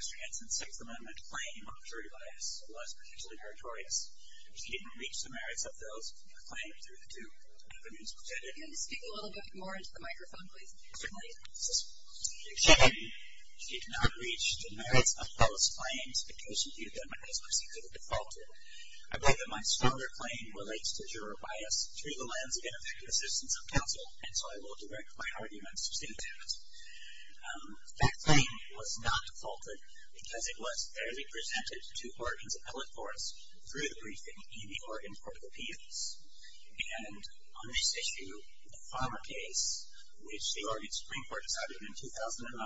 Mr. Henson's Sixth Amendment claim of jury bias was particularly meritorious, as he did not reach the merits of those claimed through the two avenues presented. Can you speak a little bit more into the microphone, please? Certainly. Exception, he did not reach the merits of those claims because he did not receive the defaulter. I believe that my stronger claim relates to juror bias through the lens of ineffective assistance of counsel, and so I will direct my arguments to state attorneys. That claim was not defaulted because it was fairly presented to Oregon's appellate courts through the briefing in the Oregon Court of Appeals. And on this issue, the Farmer case, which the Oregon Supreme Court decided in 2009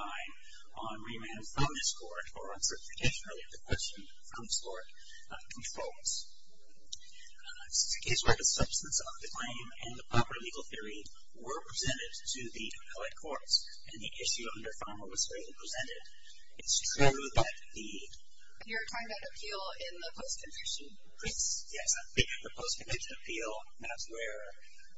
on remand from this court, or on certification earlier, the question from this court, conforms. It's a case where the substance of the claim and the proper legal theory were presented to the appellate courts, and the issue under Farmer was fairly presented. It's true that the... You're talking about appeal in the post-conviction case? Yes, the post-conviction appeal. That's where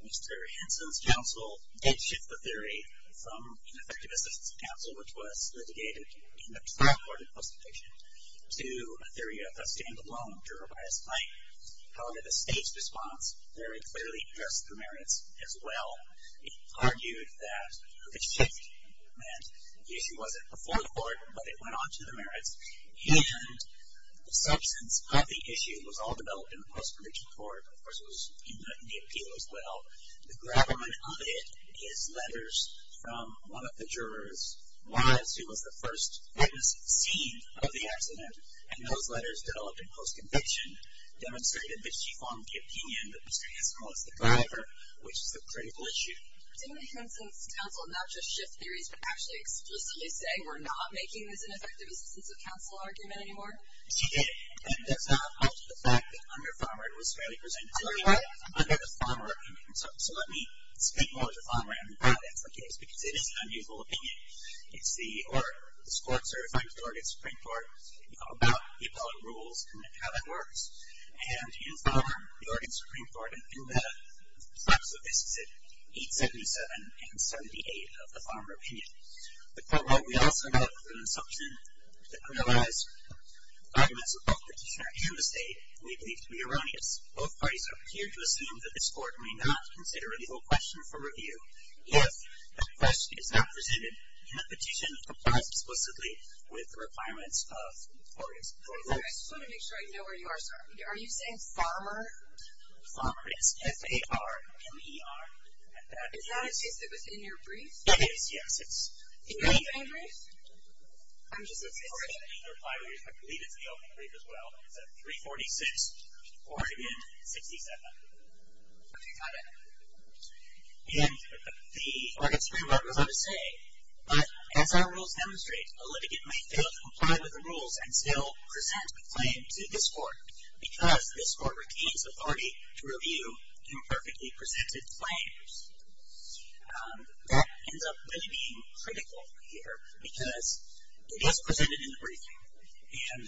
Mr. Henson's counsel did shift the theory from an effective assistance of counsel, which was litigated in the presiding court in post-conviction, to a theory of a stand-alone juror bias claim. However, the state's response very clearly addressed the merits as well. It argued that the shift meant the issue wasn't before the court, but it went on to the merits. And the substance of the issue was all developed in the post-conviction court. Of course, it was in the appeal as well. The grabberman of it is letters from one of the jurors, Wise, who was the first witness seen of the accident. And those letters, developed in post-conviction, demonstrated that she formed the opinion that Mr. Henson was the driver, which is a critical issue. Didn't Mr. Henson's counsel not just shift theories, but actually explicitly say, we're not making this an effective assistance of counsel argument anymore? She did. And that's not upheld to the fact that under Farmer, it was fairly presented. Under what? Under the Farmer opinion. So let me speak more to Farmer and how that's the case, because it is an unusual opinion. It's the court certifying the Oregon Supreme Court about the appellate rules and how that works. And in Farmer, the Oregon Supreme Court, in the facts of this, is at 877 and 78 of the Farmer opinion. The court wrote, we also note an assumption that criminalized arguments of both petitioner and the state. We believe to be erroneous. Both parties are here to assume that this court may not consider a legal question for review. If that question is not presented, can the petition comply explicitly with the requirements of Oregon Supreme Court? I just want to make sure I know where you are, sir. Are you saying Farmer? Farmer is F-A-R-M-E-R. Is that a case that was in your brief? It is, yes. Do you know if it's in your brief? I'm just looking for it. I believe it's in the opening brief as well. It's at 346, Oregon 67. Okay, got it. And the Oregon Supreme Court was going to say, but as our rules demonstrate, a litigant may fail to comply with the rules and still present a claim to this court because this court retains authority to review imperfectly presented claims. That ends up really being critical here because it is presented in the briefing. And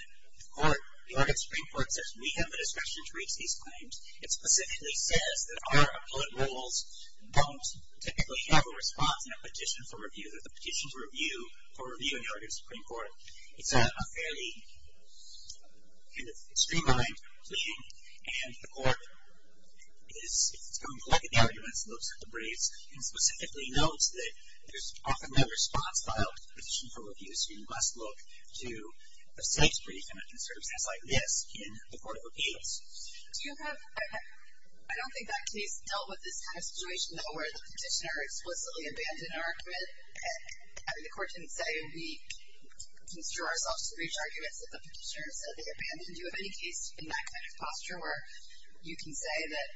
the Oregon Supreme Court says, we have the discretion to reach these claims. It specifically says that our appellate rules don't typically have a response in a petition for review. The petition for review in the Oregon Supreme Court is a fairly kind of streamlined thing, and the court, if it's going to look at the arguments, looks at the briefs, and specifically notes that there's often no response filed in a petition for review, so you must look to a safe brief in a circumstance like this in the court of appeals. I don't think that case dealt with this kind of situation, though, where the petitioner explicitly abandoned an argument. I mean, the court didn't say we construe ourselves to reach arguments that the petitioner said they abandoned. Do you have any case in that kind of posture where you can say that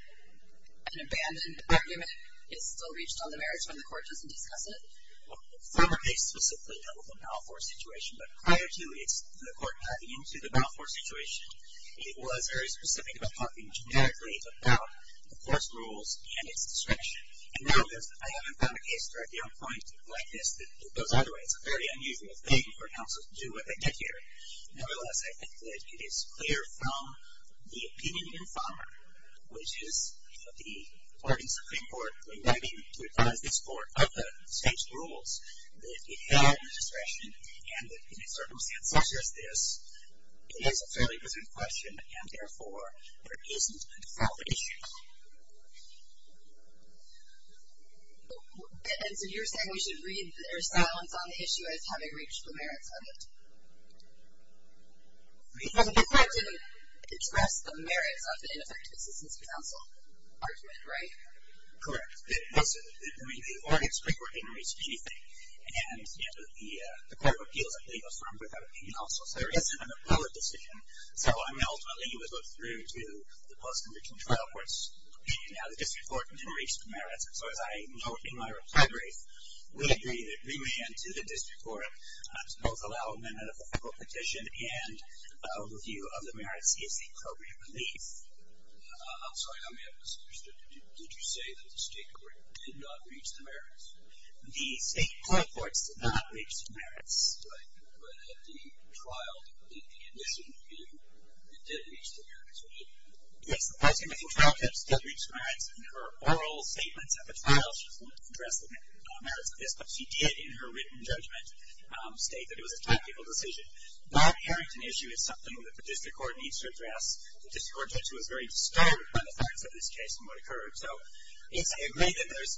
an abandoned argument is still reached on the merits when the court doesn't discuss it? Well, the former case specifically dealt with a mal-force situation, but prior to the court tapping into the mal-force situation, it was very specific about talking generically about the force rules and its discretion. And now that I haven't found a case directly on point like this that goes either way, it's a very unusual thing for counsels to do when they get here. Nevertheless, I think that it is clear from the opinion of the former, which is the Oregon Supreme Court, when writing to advise this court of the state's rules, that it had a discretion and that in a circumstance such as this, it is a fairly present question and, therefore, there isn't a valid issue. And so you're saying we should read their silence on the issue as having reached the merits of it? Because the court didn't express the merits of the ineffective assistance to counsel argument, right? Correct. I mean, the Oregon Supreme Court didn't reach anything. And the Court of Appeals, I think, affirmed with that opinion also. So there isn't a valid decision. So I mean, ultimately, you would look through to the post-conviction trial court's opinion. Now, the district court didn't reach the merits. And so, as I note in my reply brief, we agree that it remained to the district court to both allow amendment of the federal petition and a review of the merits. Yes, the appropriate relief. I'm sorry. I may have misunderstood. Did you say that the state court did not reach the merits? The state court courts did not reach the merits. Right. But at the trial, the condition being it did reach the merits, right? Yes, the post-conviction trial court did reach the merits. In her oral statements at the trial, she didn't address the merits of this. But she did, in her written judgment, state that it was a tactical decision. That Harrington issue is something that the district court needs to address. The district court judge was very disturbed by the facts of this case and what occurred. So, yes, I agree that there's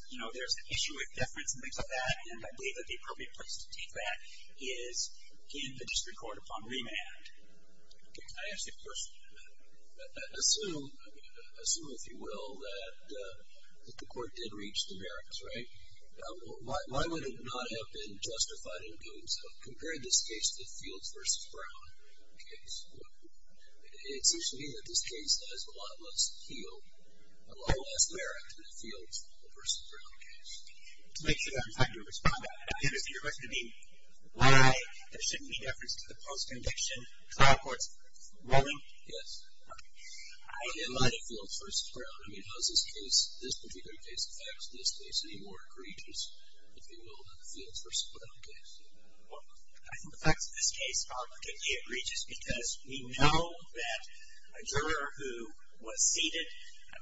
an issue with deference and things like that. And I believe that the appropriate place to take that is in the district court upon remand. Can I ask you a question on that? Assume, if you will, that the court did reach the merits, right? Why would it not have been justified in doing so? Compare this case to Fields v. Brown case. It seems to me that this case has a lot less heel, a lot less merit in the Fields v. Brown case. To make sure that I'm trying to respond to that, I understand your question being why there shouldn't be deference to the post-conviction trial court's ruling? Yes. Okay. In my view, in Fields v. Brown, I mean, how does this case, this particular case, affect this case any more egregious, if you will, than the Fields v. Brown case? I think the facts of this case are particularly egregious because we know that a juror who was seated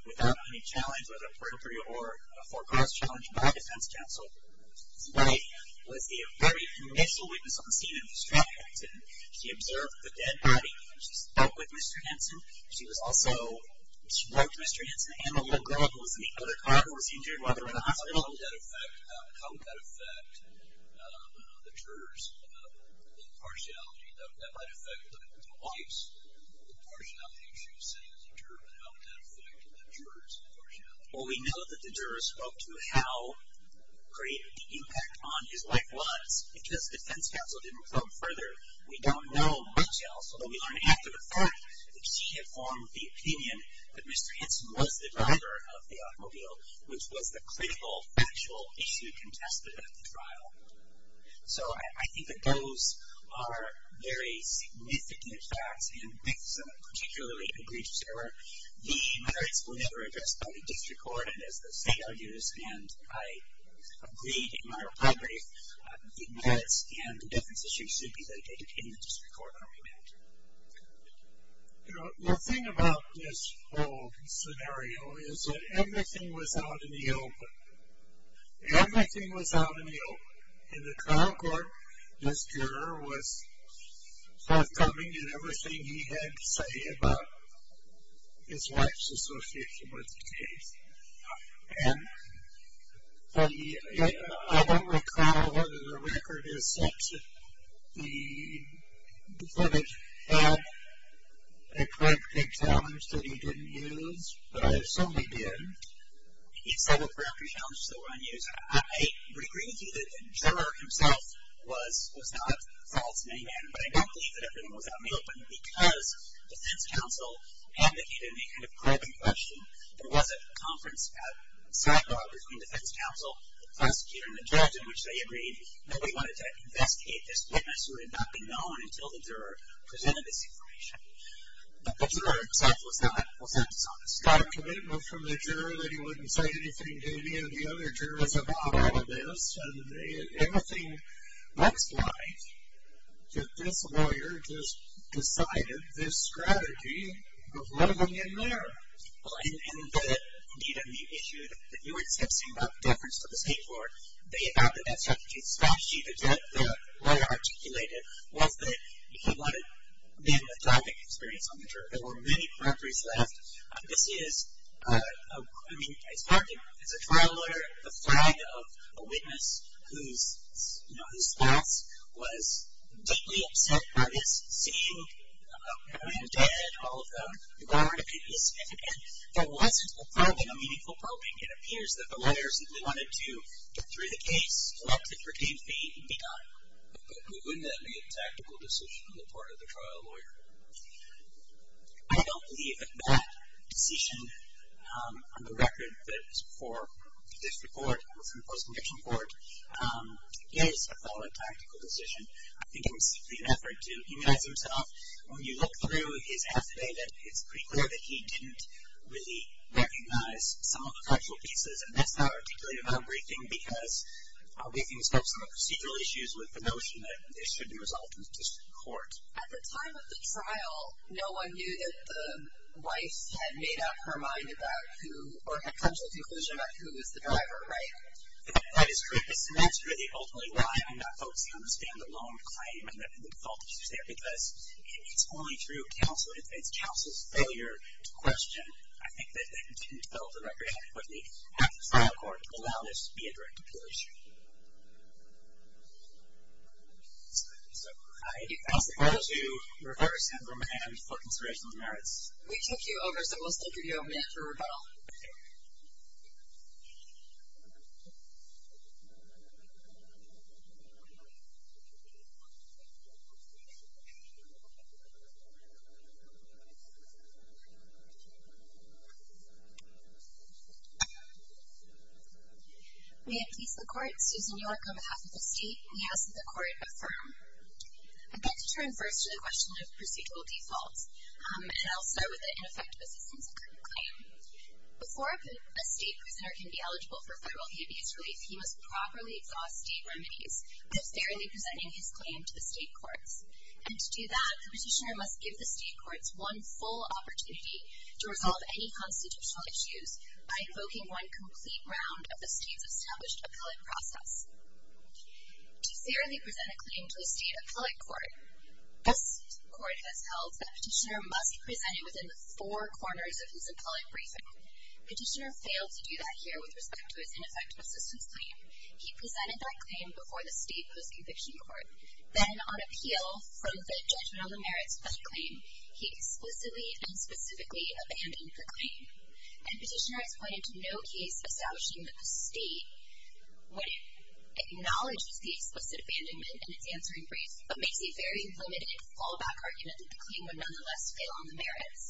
without any challenge, whether a periphery or a forecast challenge by a defense counsel, his wife was the very initial witness on the scene of the strike. And she observed the dead body, and she spoke with Mr. Henson. She was also, she worked Mr. Henson, and a little girl who was in the other car who was injured while they were in the hospital. How would that affect the juror's impartiality? That might affect the wife's impartiality if she was sitting as a juror, but how would that affect the juror's impartiality? Well, we know that the juror spoke to how great the impact on his wife was because the defense counsel didn't go further. We don't know much else, although we learned after the fact that she had formed the opinion that Mr. Henson was the driver of the automobile, which was the critical actual issue contested at the trial. So I think that those are very significant facts, and because of the particularly egregious error, the merits were never addressed by the district court, and as the state argues, and I agreed in my reply brief, the merits and the defense issues should be located in the district court argument. The thing about this whole scenario is that everything was out in the open. Everything was out in the open. In the trial court, this juror was forthcoming in everything he had to say about his wife's association with the case, and I don't recall whether the record is such that the defendant had a preemptive challenge that he didn't use, but I assume he did. He said the preemptive challenges that were unused. I would agree with you that the juror himself was not forthcoming, but I don't believe that everything was out in the open because defense counsel indicated in a kind of preemptive question there was a conference at SACWA between defense counsel, the prosecutor, and the judge in which they agreed that we wanted to investigate this witness who had not been known until the juror presented this information. But the juror himself was not forthcoming. He got a commitment from the juror that he wouldn't say anything to any of the other jurors about all of this, and everything looks like that this lawyer just decided this strategy of letting him in there. Well, in the data you issued that you were discussing about the deference to the State Board, they adopted that strategy. The letter articulated was that he wanted to be in the driving experience on the juror. There were many parameters left. This is, I mean, it's hard to, as a trial lawyer, the flag of a witness whose spouse was deeply upset by this, seeing how you dated all of them, the guard could be significant. There wasn't a problem, a meaningful problem. It appears that the lawyer simply wanted to, through the case, collect the 13 feet and be done. But wouldn't that be a tactical decision on the part of the trial lawyer? I don't believe that that decision on the record that is before the district court or from the Post-Conviction Court is at all a tactical decision. I think it was simply an effort to humanize himself. When you look through his affidavit, it's pretty clear that he didn't really recognize some of the factual pieces, and that's not articulated in the briefing, because I'll give you some procedural issues with the notion that this shouldn't result in the district court. At the time of the trial, no one knew that the wife had made up her mind about who, or had come to a conclusion about who was the driver, right? That is correct. And that's really ultimately why I'm not focusing on the stand-alone claim and the fault issues there, because it's only through counsel, and it's counsel's failure to question, I think, that they didn't develop the record adequately at the trial court to allow this to be a direct appeal issue. I also call to reverse and remand for conservation of merits. We took you over, so we'll stick with you a minute for rebuttal. Okay. May I please have the court, Susan York, on behalf of the state. We ask that the court affirm. I'd like to turn first to the question of procedural defaults, and I'll start with the ineffective assistance claim. Before a state prisoner can be eligible for federal habeas relief, he must properly exhaust state remedies by fairly presenting his claim to the state courts. And to do that, the petitioner must give the state courts one full opportunity to resolve any constitutional issues by invoking one complete round of the state's established appellate process. To fairly present a claim to a state appellate court, best court has held that petitioner must present it within the four corners of his appellate briefing. Petitioner failed to do that here with respect to his ineffective assistance claim. He presented that claim before the state post-conviction court. Then, on appeal from the judgment of the merits of that claim, he explicitly and specifically abandoned the claim. And petitioner has pointed to no case establishing that the state would acknowledge the explicit abandonment in its answering brief, but makes a very limited fallback argument that the claim would nonetheless fail on the merits.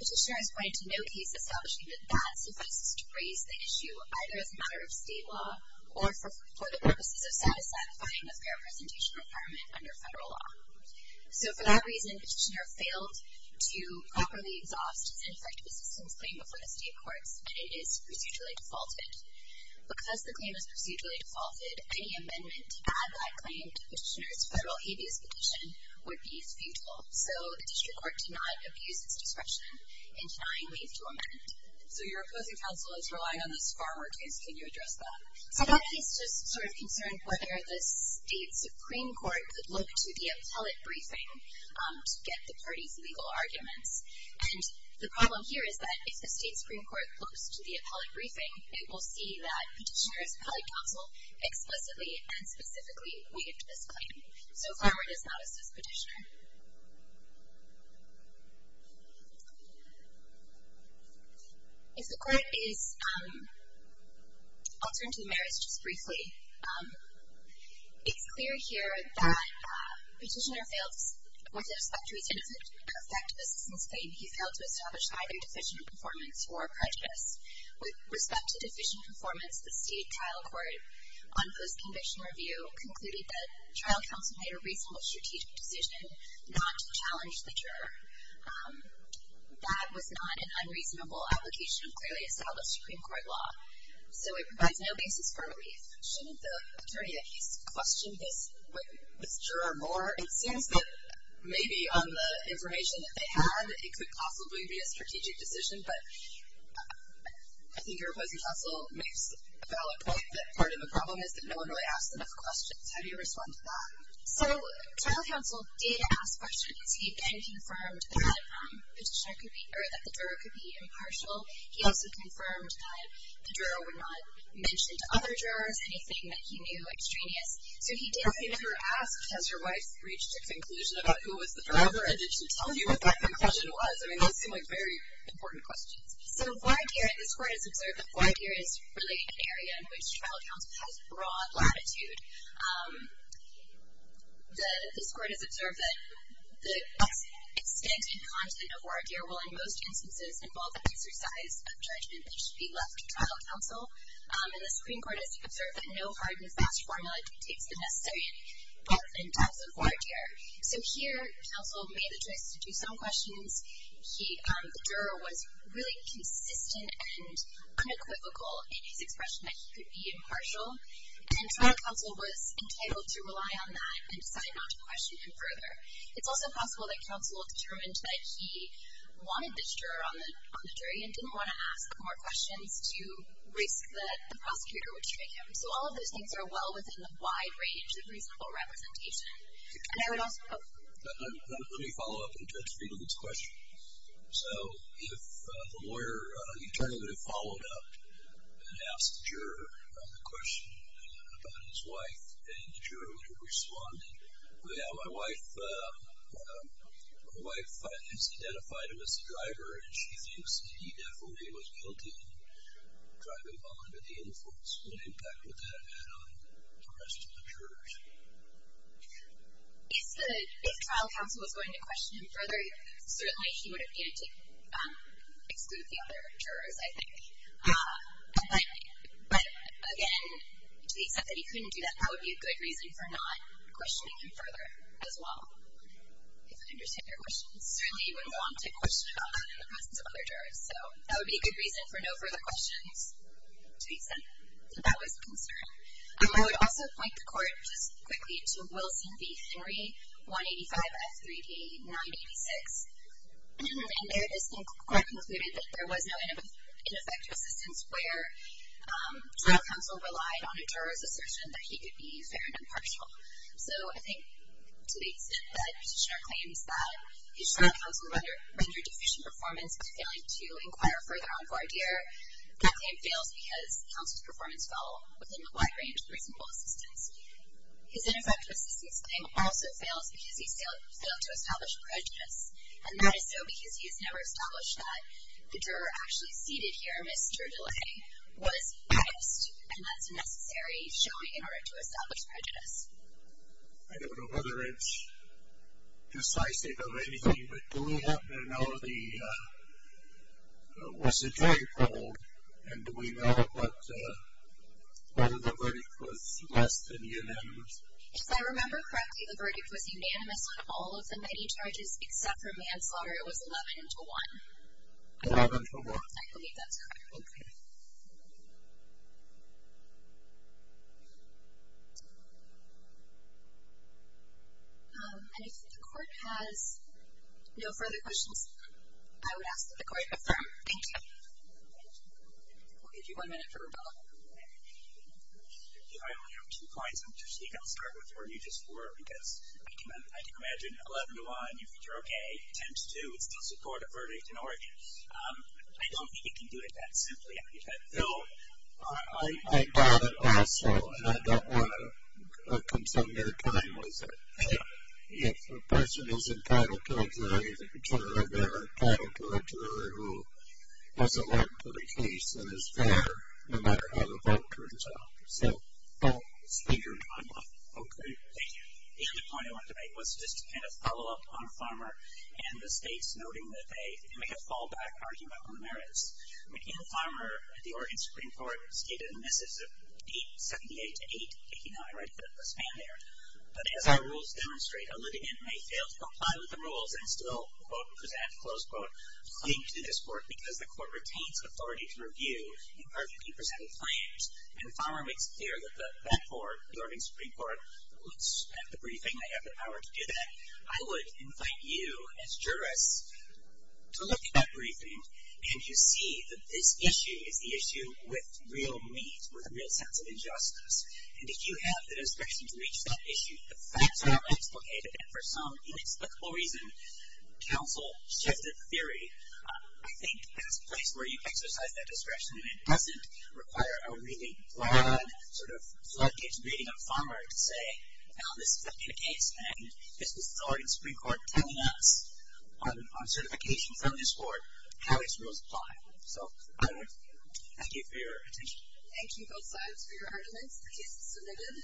Petitioner has pointed to no case establishing that that suffices to raise the issue, either as a matter of state law or for the purposes of satisfying a fair representation requirement under federal law. So for that reason, petitioner failed to properly exhaust his ineffective assistance claim before the state courts, and it is procedurally defaulted. Because the claim is procedurally defaulted, any amendment to add that claim to petitioner's federal habeas petition would be futile. So the district court did not abuse its discretion in denying leave to amend it. So your opposing counsel is relying on this Farmer case. Can you address that? I thought he was just sort of concerned whether the state supreme court could look to the appellate briefing to get the party's legal arguments. And the problem here is that if the state supreme court looks to the appellate briefing, it will see that petitioner's appellate counsel explicitly and specifically waived this claim. So Farmer does not assist petitioner. If the court is, I'll turn to the merits just briefly. It's clear here that petitioner failed with respect to his ineffective assistance claim. He failed to establish either deficient performance or prejudice. With respect to deficient performance, the state trial court on post-conviction review concluded that trial counsel made a reasonable strategic decision not to challenge the juror. That was not an unreasonable application of clearly established supreme court law. So it provides no basis for relief. Shouldn't the attorney at least question this juror more? It seems that maybe on the information that they had, it could possibly be a strategic decision. But I think your opposing counsel makes a valid point that part of the problem is that no one really asks enough questions. How do you respond to that? So trial counsel did ask questions. He, again, confirmed that the juror could be impartial. He also confirmed that the juror would not mention to other jurors anything that he knew extraneous. So he did ask, has your wife reached a conclusion about who was the juror? And did she tell you what that conclusion was? I mean, those seem like very important questions. So this court has observed that voir dire is really an area in which trial counsel has broad latitude. This court has observed that the extended content of voir dire will, in most instances, involve an exercise of judgment that should be left to trial counsel. And the Supreme Court has observed that no hard and fast formula dictates the necessity in terms of voir dire. So here, counsel made the choice to do some questions. The juror was really consistent and unequivocal in his expression that he could be impartial. And trial counsel was entitled to rely on that and decide not to question him further. It's also possible that counsel determined that he wanted this juror on the jury and didn't want to ask more questions to risk that the prosecutor would trick him. So all of those things are well within the wide range of reasonable representation. Let me follow up in terms of Regan's question. So if the lawyer, the attorney, would have followed up and asked the juror a question about his wife, and the juror would have responded, well, my wife has identified him as the driver, and she thinks he definitely was guilty of driving while under the influence. What impact would that have had on the rest of the jurors? If trial counsel was going to question him further, certainly he would have needed to exclude the other jurors, I think. But, again, to the extent that he couldn't do that, that would be a good reason for not questioning him further as well, if I understand your question. Certainly he wouldn't want to question about that in the presence of other jurors. So that would be a good reason for no further questions, to the extent that that was a concern. I would also point the Court, just quickly, to Wilson v. Henry, 185 F3D 986. And there this Court concluded that there was no ineffectual assistance where trial counsel relied on a juror's assertion that he could be fair and impartial. So I think to the extent that the petitioner claims that his trial counsel rendered deficient performance in failing to inquire further on Vardir, that claim fails because counsel's performance fell within the wide range of reasonable assistance. His ineffectual assistance claim also fails because he failed to establish prejudice. And that is so because he has never established that the juror actually seated here, Mr. DeLay, was biased, and that's a necessary showing in order to establish prejudice. I don't know whether it's decisive of anything, but do we happen to know what the jury called, and do we know whether the verdict was less than unanimous? If I remember correctly, the verdict was unanimous on all of the many charges except for manslaughter. It was 11 to 1. 11 to 1. I believe that's correct. Okay. Thank you. And if the Court has no further questions, I would ask that the Court confirm. Thank you. We'll give you one minute for rebuttal. If I only have two points, I'm just going to start with where you just were, because I can imagine 11 to 1, if you're okay, 10 to 2 would still support a verdict in Oregon. I don't think you can do it that simply. No, I doubt it also, and I don't want to consume your time with it. If a person is entitled to a jury, they're entitled to a jury who was elected to the case and is fair no matter how the vote turns out. So don't spend your time on it. Okay. Thank you. The other point I wanted to make was just to kind of follow up on Farmer and the state's noting that they make a fallback argument on the merits. McCain and Farmer at the Oregon Supreme Court stated in a message of 78 to 8, if you know, I read the span there, that as our rules demonstrate, a litigant may fail to comply with the rules and still, quote, present, close quote, claim to this Court because the Court retains authority to review and argue and present a claim. And Farmer makes it clear that that Court, the Oregon Supreme Court, would have the briefing, they have the power to do that. I would invite you as jurists to look at that briefing and you see that this issue is the issue with real needs, with a real sense of injustice. And if you have the discretion to reach that issue, the facts are unexplicated and for some inexplicable reason, counsel shifted the theory. I think that's a place where you exercise that discretion and it doesn't require a really broad sort of floodgates reading on Farmer to say this is a case and this is the Oregon Supreme Court telling us on certification from this Court how its rules apply. So, thank you for your attention. Thank you both sides for your arguments. The case is submitted.